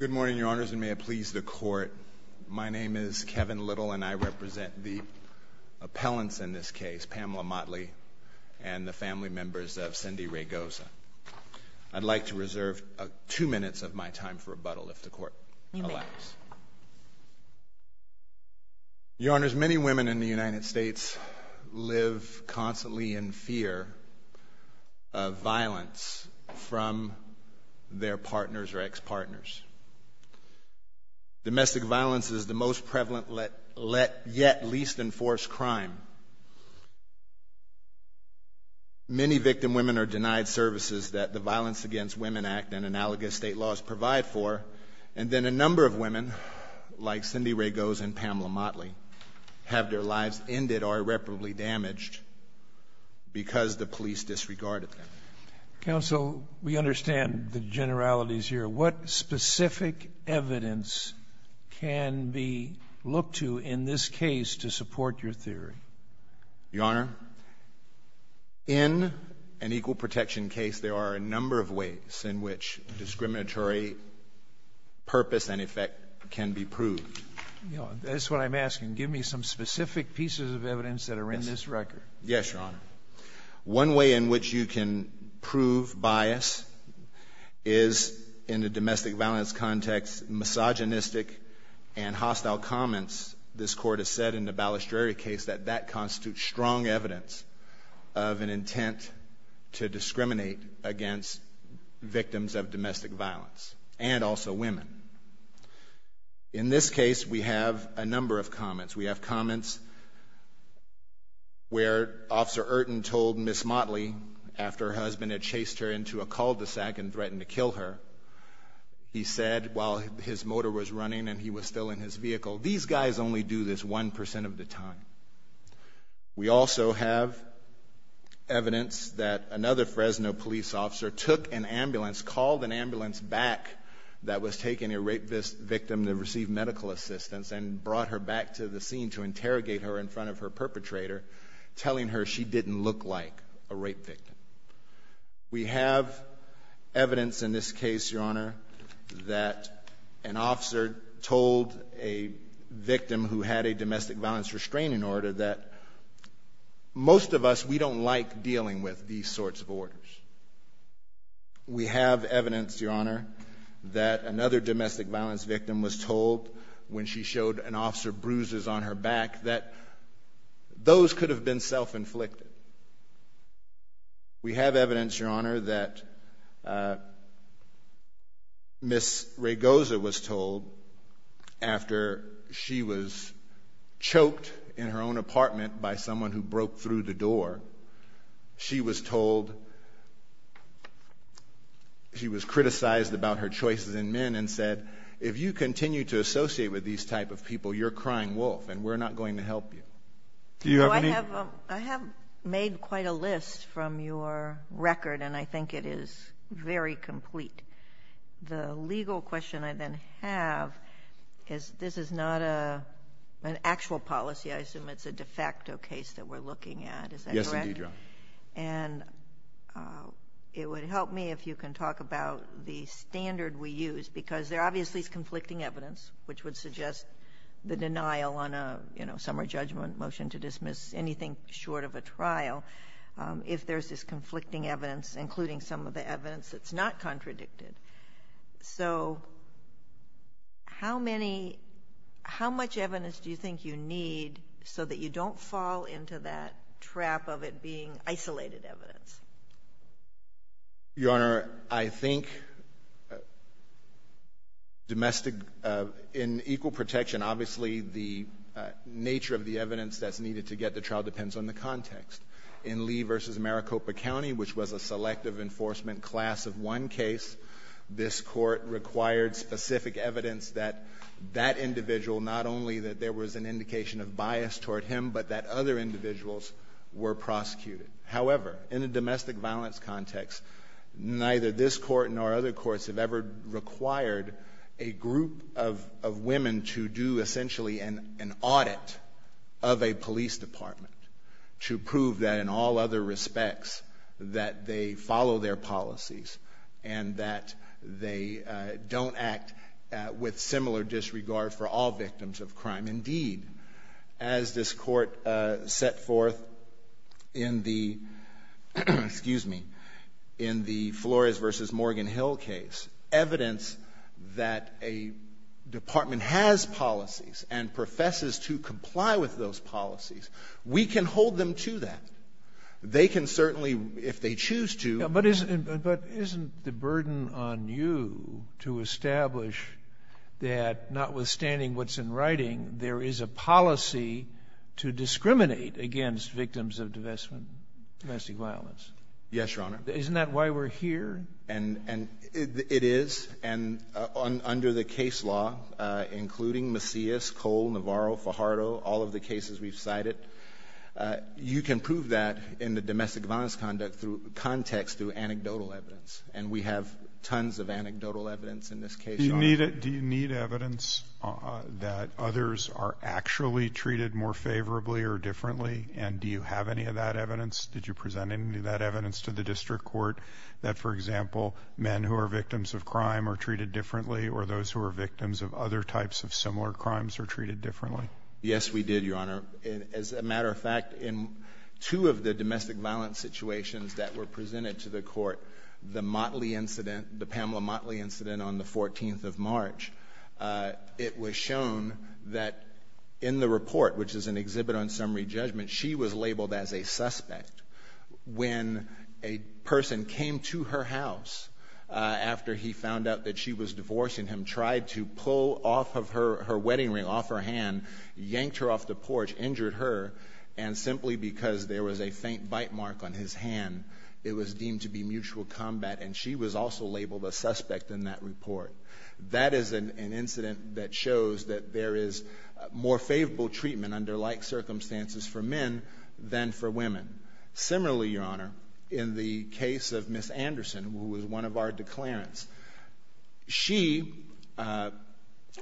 Good morning, Your Honors, and may it please the Court. My name is Kevin Little, and I represent the appellants in this case, Pamela Motley and the family members of Cindy Ray Goza. I'd like to reserve two minutes of my time for rebuttal, if the Court allows. Your Honors, many women in the United States live constantly in fear of violence from their partners or ex-partners. Domestic violence is the most prevalent, yet least enforced, crime. Many victim women are denied services that the Violence Against Women Act and analogous state laws provide for, and then a number of women, like Cindy Ray Goza and Pamela Motley, have their lives ended or irreparably damaged because the police disregarded them. Counsel, we understand the generalities here. What specific evidence can we look to in this case to support your theory? Your Honor, in an equal protection case, there are a number of ways in which discriminatory purpose and effect can be proved. That's what I'm asking. Give me some specific pieces of evidence that are in this record. Yes, Your Honor. One way in which you can prove bias is in the domestic violence context, misogynistic and hostile comments. This Court has said in the Balestrieri case that that constitutes strong evidence of an intent to discriminate against victims of domestic violence, and also women. In this case, we have a number of comments. We have comments where Officer Erton told Ms. Motley, after her husband had chased her into a and he was still in his vehicle, these guys only do this 1% of the time. We also have evidence that another Fresno police officer took an ambulance, called an ambulance back that was taking a rape victim to receive medical assistance and brought her back to the scene to interrogate her in front of her perpetrator, telling her she didn't look like a rape victim. We have evidence in this case, Your Honor, that an officer told a victim who had a domestic violence restraining order that most of us, we don't like dealing with these sorts of orders. We have evidence, Your Honor, that another domestic violence victim was told when she We have evidence, Your Honor, that Ms. Raygoza was told after she was choked in her own apartment by someone who broke through the door, she was told, she was criticized about her choices in men and said, if you continue to associate with these type of people, you're crying wolf and we're not going to help you. Do you have any? I have made quite a list from your record and I think it is very complete. The legal question I then have is, this is not an actual policy, I assume it's a de facto case that we're looking at, is that correct? Yes, indeed, Your Honor. And it would help me if you can talk about the standard we use because there obviously is conflicting evidence, which would suggest the denial on a, you know, summer judgment motion to dismiss anything short of a trial, if there's this conflicting evidence, including some of the evidence that's not contradicted. So how many, how much evidence do you think you need so that you don't fall into that trap of it being isolated evidence? Your Honor, I think domestic, in equal protection, obviously, the nature of the evidence that's needed to get the trial depends on the context. In Lee v. Maricopa County, which was a selective enforcement class of one case, this court required specific evidence that that individual, not only that there was an indication of bias toward him, but that other individuals were prosecuted. However, in a domestic violence context, neither this court nor other courts have ever required a group of women to do essentially an audit of a police department to prove that in all other respects that they follow their policies and that they don't act with similar disregard for all victims of crime. Indeed, as this court set forth in the, excuse me, in the Flores v. Morgan Hill case, evidence that a department has policies and professes to comply with those policies, we can hold them to that. They can certainly, if they choose to do that. I wish that notwithstanding what's in writing, there is a policy to discriminate against victims of domestic violence. Yes, Your Honor. Isn't that why we're here? And it is, and under the case law, including Macias, Cole, Navarro, Fajardo, all of the cases we've cited, you can prove that in the domestic violence context through anecdotal evidence. And we have tons of anecdotal evidence in this case, Your Honor. Do you need evidence that others are actually treated more favorably or differently? And do you have any of that evidence? Did you present any of that evidence to the district court that, for example, men who are victims of crime are treated differently or those who are victims of other types of similar crimes are treated differently? Yes, we did, Your Honor. As a matter of fact, in two of the domestic violence situations that were presented to the court, the Motley incident, the Pamela Motley incident on the 14th of March, it was shown that in the report, which is an exhibit on summary judgment, she was labeled as a suspect when a person came to her house after he found out that she was divorcing him, tried to pull off of her wedding ring, off her hand, yanked her off the porch, injured her, and simply because there was a faint bite mark on his hand, it was deemed to be mutual combat, and she was also labeled a suspect in that report. That is an incident that shows that there is more favorable treatment under like circumstances for men than for women. Similarly, Your Honor, in the case of Ms. Anderson, who was one of our declarants, she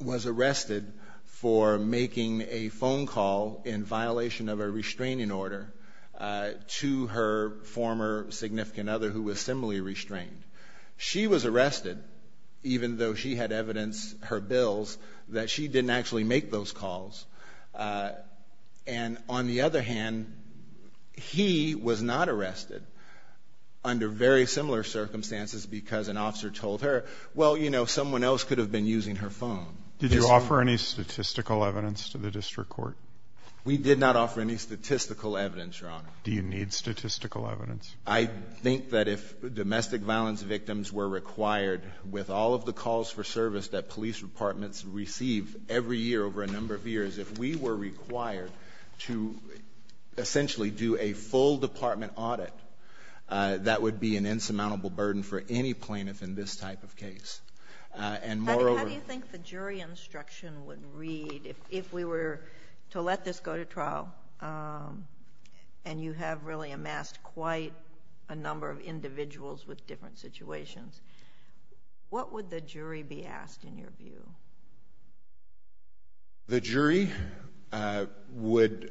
was arrested for making a phone call in violation of a restraining order to her former significant other who was similarly restrained. She was arrested, even though she had evidence, her bills, that she didn't actually make those calls. And on the other hand, he was not arrested under very similar circumstances because an arrest could have been using her phone. Did you offer any statistical evidence to the district court? We did not offer any statistical evidence, Your Honor. Do you need statistical evidence? I think that if domestic violence victims were required with all of the calls for service that police departments receive every year over a number of years, if we were required to essentially do a full department audit, that would be an insurmountable burden for any plaintiff in this type of case. And moreover— How do you think the jury instruction would read if we were to let this go to trial and you have really amassed quite a number of individuals with different situations? What would the jury be asked in your view? The jury would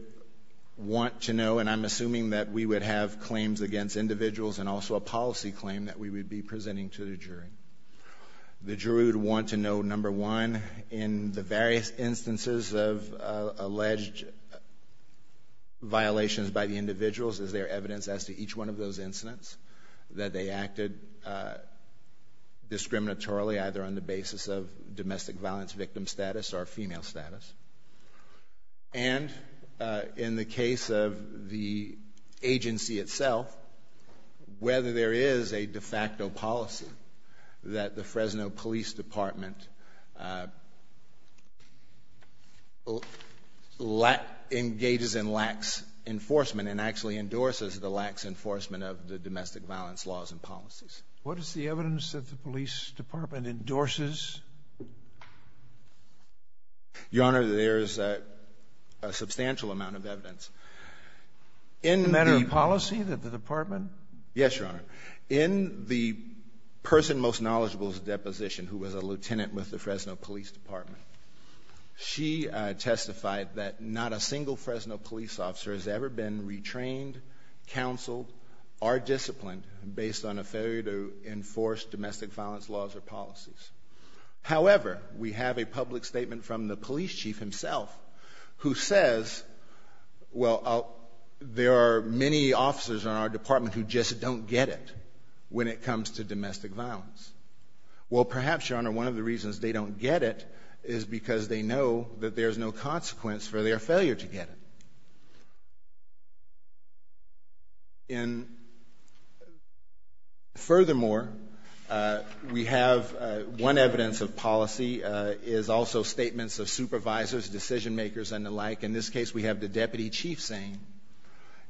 want to know, and I'm assuming that we would have claims against individuals and also a policy claim that we would be presenting to the jury. The jury would want to know, number one, in the various instances of alleged violations by the individuals, is there evidence as to each one of those incidents that they acted discriminatorily, either on the basis of domestic violence victim status or female status? And in the case of the agency itself, whether there is a de facto policy that the Fresno Police Department engages in lax enforcement and actually endorses the lax enforcement of the domestic violence laws and policies. What is the evidence that the police department endorses? Your Honor, there is a substantial amount of evidence. In the— A matter of policy that the department? Yes, Your Honor. In the person most knowledgeable to the deposition, who was a lieutenant with the Fresno Police Department, she testified that not a single Fresno police officer has ever been retrained, counseled, or disciplined based on a failure to enforce domestic violence laws or policies. However, we have a public statement from the police chief himself who says, well, there are many officers in our department who just don't get it when it comes to domestic violence. Well, perhaps, Your Honor, one of the reasons they don't get it is because they know that there's no consequence for their failure to get it. And furthermore, we have one evidence of policy is also statements of supervisors, decision makers, and the like. In this case, we have the deputy chief saying,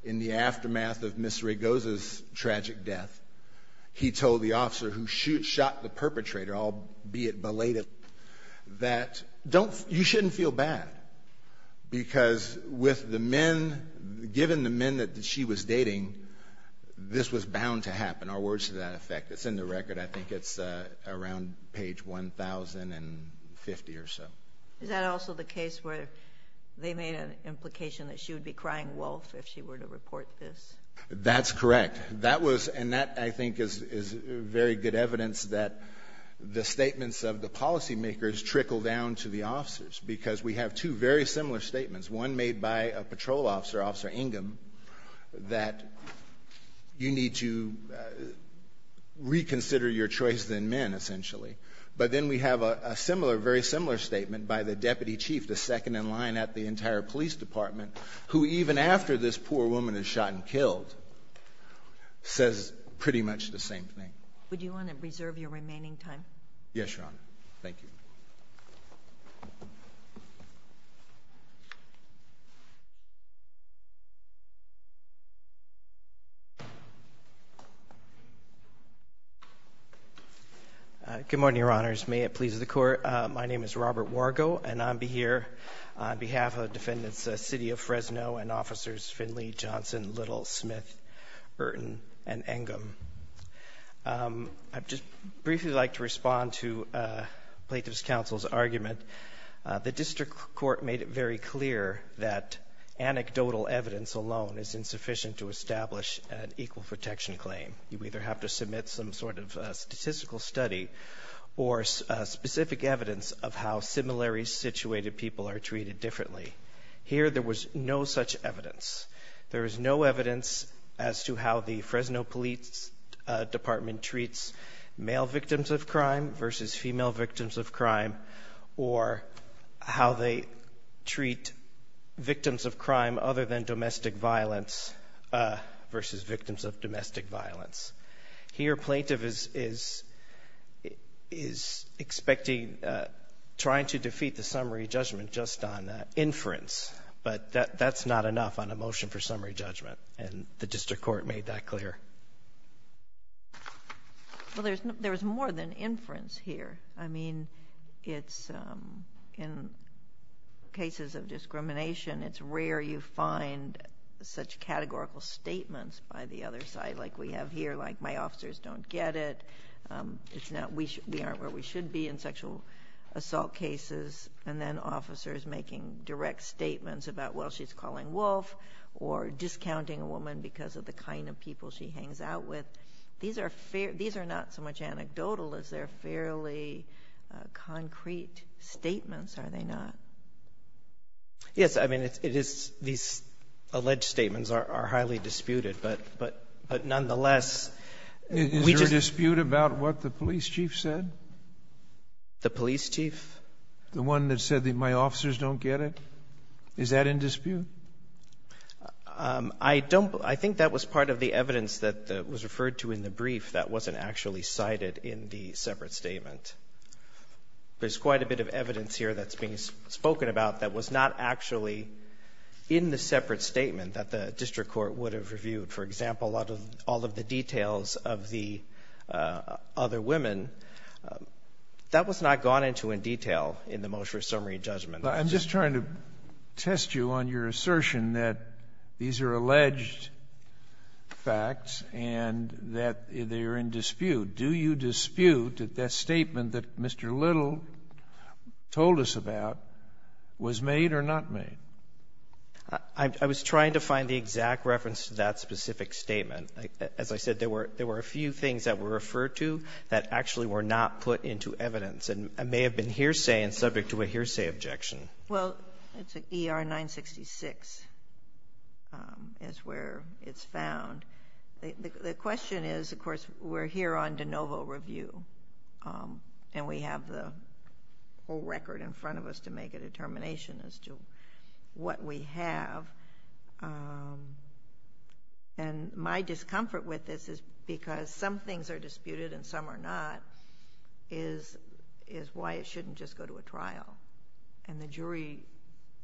in the aftermath of Ms. Regosa's tragic death, he told the officer who shot the perpetrator, albeit belated, that you shouldn't feel bad because with the men, given the men that she was dating, this was bound to happen. Our words to that effect. It's in the record. I think it's around page 1,050 or so. Is that also the case where they made an implication that she would be crying wolf if she were to report this? That's correct. That was, and that, I think, is very good evidence that the statements of the policy makers trickle down to the officers because we have two very similar statements. One made by a patrol officer, Officer Ingham, that you need to reconsider your choice than men, essentially. But then we have a similar, very similar statement by the deputy chief, the second in line at the entire police department, who even after this poor woman is shot and killed, says pretty much the same thing. Yes, Your Honor. Thank you. Good morning, Your Honors. May it please the Court. My name is Robert Wargo, and I'll be here on behalf of Defendants City of Fresno and Officers Finley, Johnson, Little, Smith, Burton, and Ingham. I'd just briefly like to respond to Plaintiff's counsel's argument. The district court made it very clear that anecdotal evidence alone is insufficient to establish an equal protection claim. You either have to submit some sort of statistical study or specific evidence of how similarly situated people are treated differently. Here there was no such evidence. There is no evidence as to how the Fresno Police Department treats male victims of crime versus female victims of crime or how they treat victims of crime other than domestic violence versus victims of domestic violence. Here Plaintiff is expecting, trying to defeat the summary judgment just on inference, but that's not enough on a motion for summary judgment, and the district court made that clear. Well, there's more than inference here. I mean, in cases of discrimination, it's rare you find such categorical statements by the other side like we have here, like my officers don't get it, we aren't where we should be in sexual assault cases, and then officers making direct statements about, well, she's calling Wolf or discounting a woman because of the kind of people she hangs out with, these are not so much anecdotal as they're fairly concrete statements, are they not? Yes. I mean, it is these alleged statements are highly disputed, but nonetheless, Is there a dispute about what the police chief said? The police chief? The one that said that my officers don't get it? Is that in dispute? I don't – I think that was part of the evidence that was referred to in the brief that wasn't actually cited in the separate statement. There's quite a bit of evidence here that's being spoken about that was not actually in the separate statement that the district court would have reviewed. For example, out of all of the details of the other women, that was not gone into in detail in the Mosher summary judgment. I'm just trying to test you on your assertion that these are alleged facts and that they are in dispute. Do you dispute that that statement that Mr. Little told us about was made or not made? I was trying to find the exact reference to that specific statement. As I said, there were a few things that were referred to that actually were not put into evidence and may have been hearsay and subject to a hearsay objection. Well, it's ER-966 is where it's found. The question is, of course, we're here on de novo review, and we have the whole record in front of us to make a determination as to what we have. And my discomfort with this is because some things are disputed and some are not, is why it shouldn't just go to a trial. And the jury,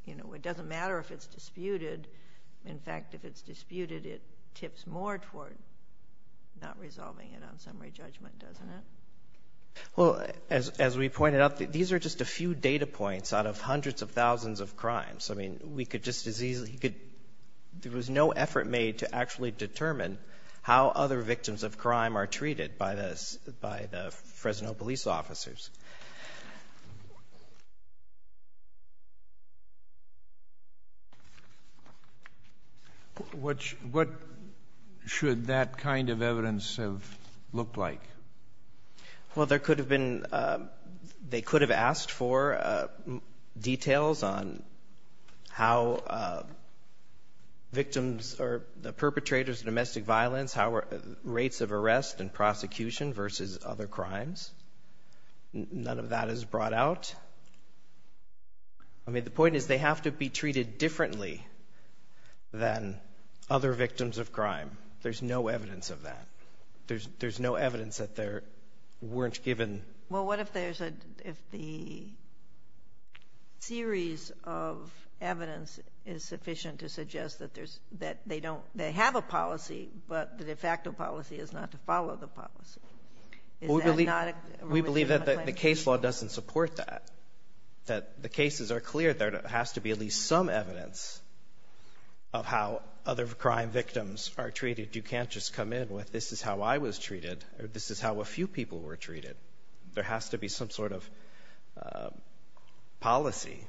you know, it doesn't matter if it's disputed. In fact, if it's disputed, it tips more toward not resolving it on summary judgment, doesn't it? Well, as we pointed out, these are just a few data points out of hundreds of thousands of crimes. I mean, we could just as easily go to the jury. There was no effort made to actually determine how other victims of crime are treated by the Fresno police officers. What should that kind of evidence have looked like? Well, there could have been, they could have asked for details on how victims or the perpetrators of domestic violence, how rates of arrest and prosecution versus other crimes. None of that is brought out. I mean, the point is they have to be treated differently than other victims of crime. There's no evidence of that. There's no evidence that there weren't given. Well, what if there's a, if the series of evidence is sufficient to suggest that there's, that they don't, they have a policy, but the de facto policy is not to follow the policy? Is that not a claim? We believe that the case law doesn't support that. That the cases are clear. There has to be at least some evidence of how other crime victims are treated. You can't just come in with, this is how I was treated, or this is how a few people were treated. There has to be some sort of policy,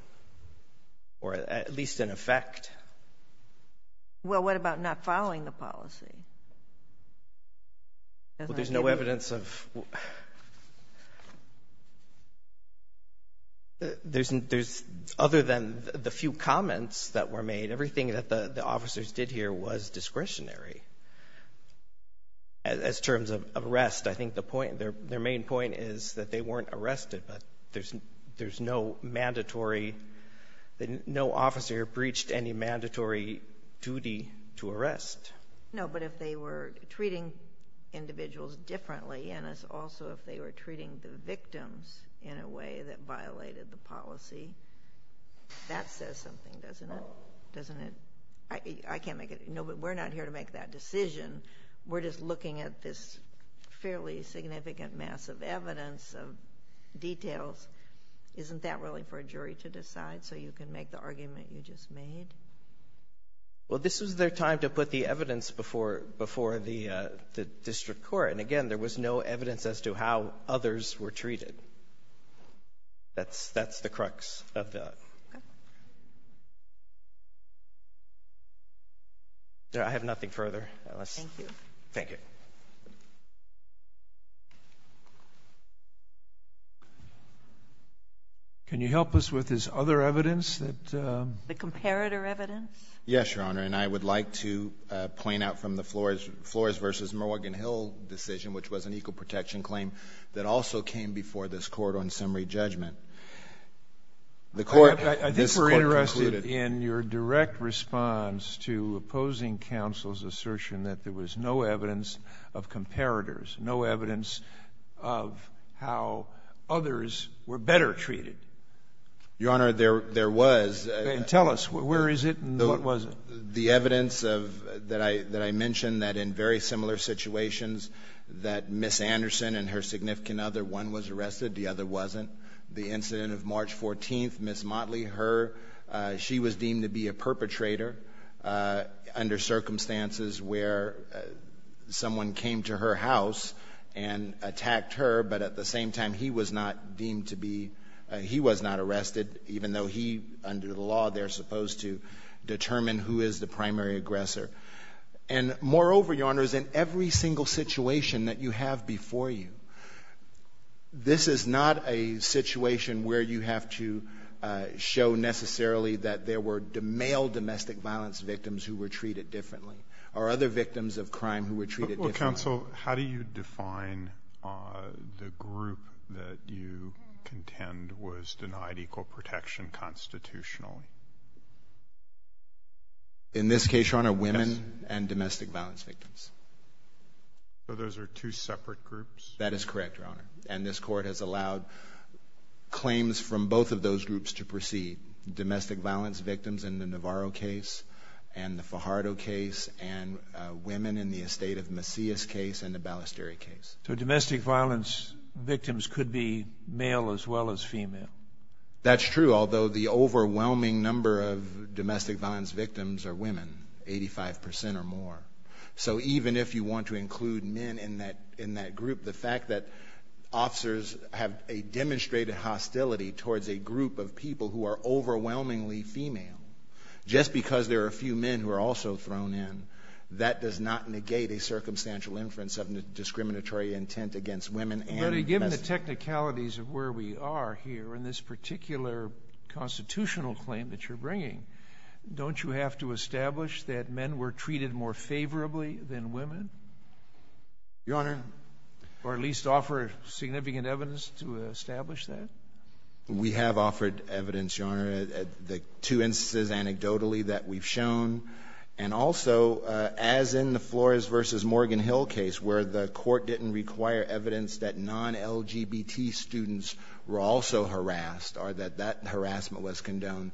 or at least an effect. Well, what about not following the policy? Well, there's no evidence of, there's, other than the few comments that were made, everything that the officers did here was discretionary as terms of arrest. I think the point, their main point is that they weren't arrested, but there's no mandatory, no officer breached any mandatory duty to arrest. No, but if they were treating individuals differently, and also if they were treating the victims in a way that violated the policy, that says something, doesn't it? I can't make it, no, but we're not here to make that decision. We're just looking at this fairly significant mass of evidence, of details. Isn't that really for a jury to decide, so you can make the argument you just made? Well, this was their time to put the evidence before the district court. And again, there was no evidence as to how others were treated. That's the crux of that. I have nothing further. Thank you. Thank you. Can you help us with this other evidence? The comparator evidence? Yes, Your Honor, and I would like to point out from the Flores versus Morgan Hill decision, which was an equal protection claim that also came before this court on summary judgment. I think we're interested in your direct response to opposing counsel's assertion that there was no evidence of comparators, no evidence of how others were better treated. Your Honor, there was. Tell us, where is it and what was it? The evidence that I mentioned, that in very similar situations, that Ms. Anderson and her significant other, one was arrested, the other wasn't. The incident of March 14th, Ms. Motley, her, she was deemed to be a perpetrator under circumstances where someone came to her house and attacked her, but at the same time, he was not deemed to be, he was not arrested, even though he, under the law, they're supposed to determine who is the primary aggressor. And moreover, Your Honor, in every single situation that you have before you, this is not a situation where you have to show necessarily that there were male domestic violence victims who were treated differently or other victims of crime who were treated differently. Well, counsel, how do you define the group that you contend was denied equal protection constitutionally? In this case, Your Honor, women and domestic violence victims. So those are two separate groups? That is correct, Your Honor. And this court has allowed claims from both of those groups to proceed. The domestic violence victims in the Navarro case and the Fajardo case, and women in the estate of Macias case and the Ballesteri case. So domestic violence victims could be male as well as female. That's true, although the overwhelming number of domestic violence victims are women, 85% or more. So even if you want to include men in that group, the fact that officers have a demonstrated hostility towards a group of people who are overwhelmingly female just because there are a few men who are also thrown in, that does not negate a circumstantial inference of discriminatory intent against women. But given the technicalities of where we are here in this particular constitutional claim that you're bringing, don't you have to establish that men were treated more favorably than women? Your Honor. Or at least offer significant evidence to establish that? We have offered evidence, Your Honor, the two instances anecdotally that we've shown. And also, as in the Flores v. Morgan Hill case, where the court didn't require evidence that non-LGBT students were also harassed or that that harassment was condoned,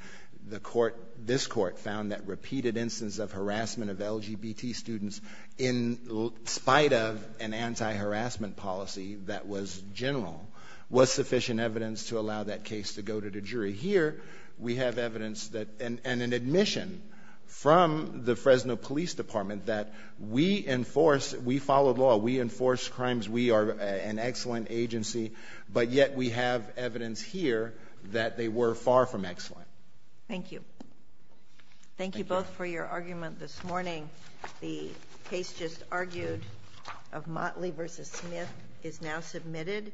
the court, this court, found that repeated instance of harassment of LGBT students in spite of an anti-harassment policy that was general was sufficient evidence to allow that case to go to the jury. Here we have evidence that, and an admission from the Fresno Police Department that we enforce, we follow law, we enforce crimes, we are an excellent agency, but yet we have evidence here that they were far from excellent. Thank you. Thank you both for your argument this morning. The case just argued of Motley v. Smith is now submitted.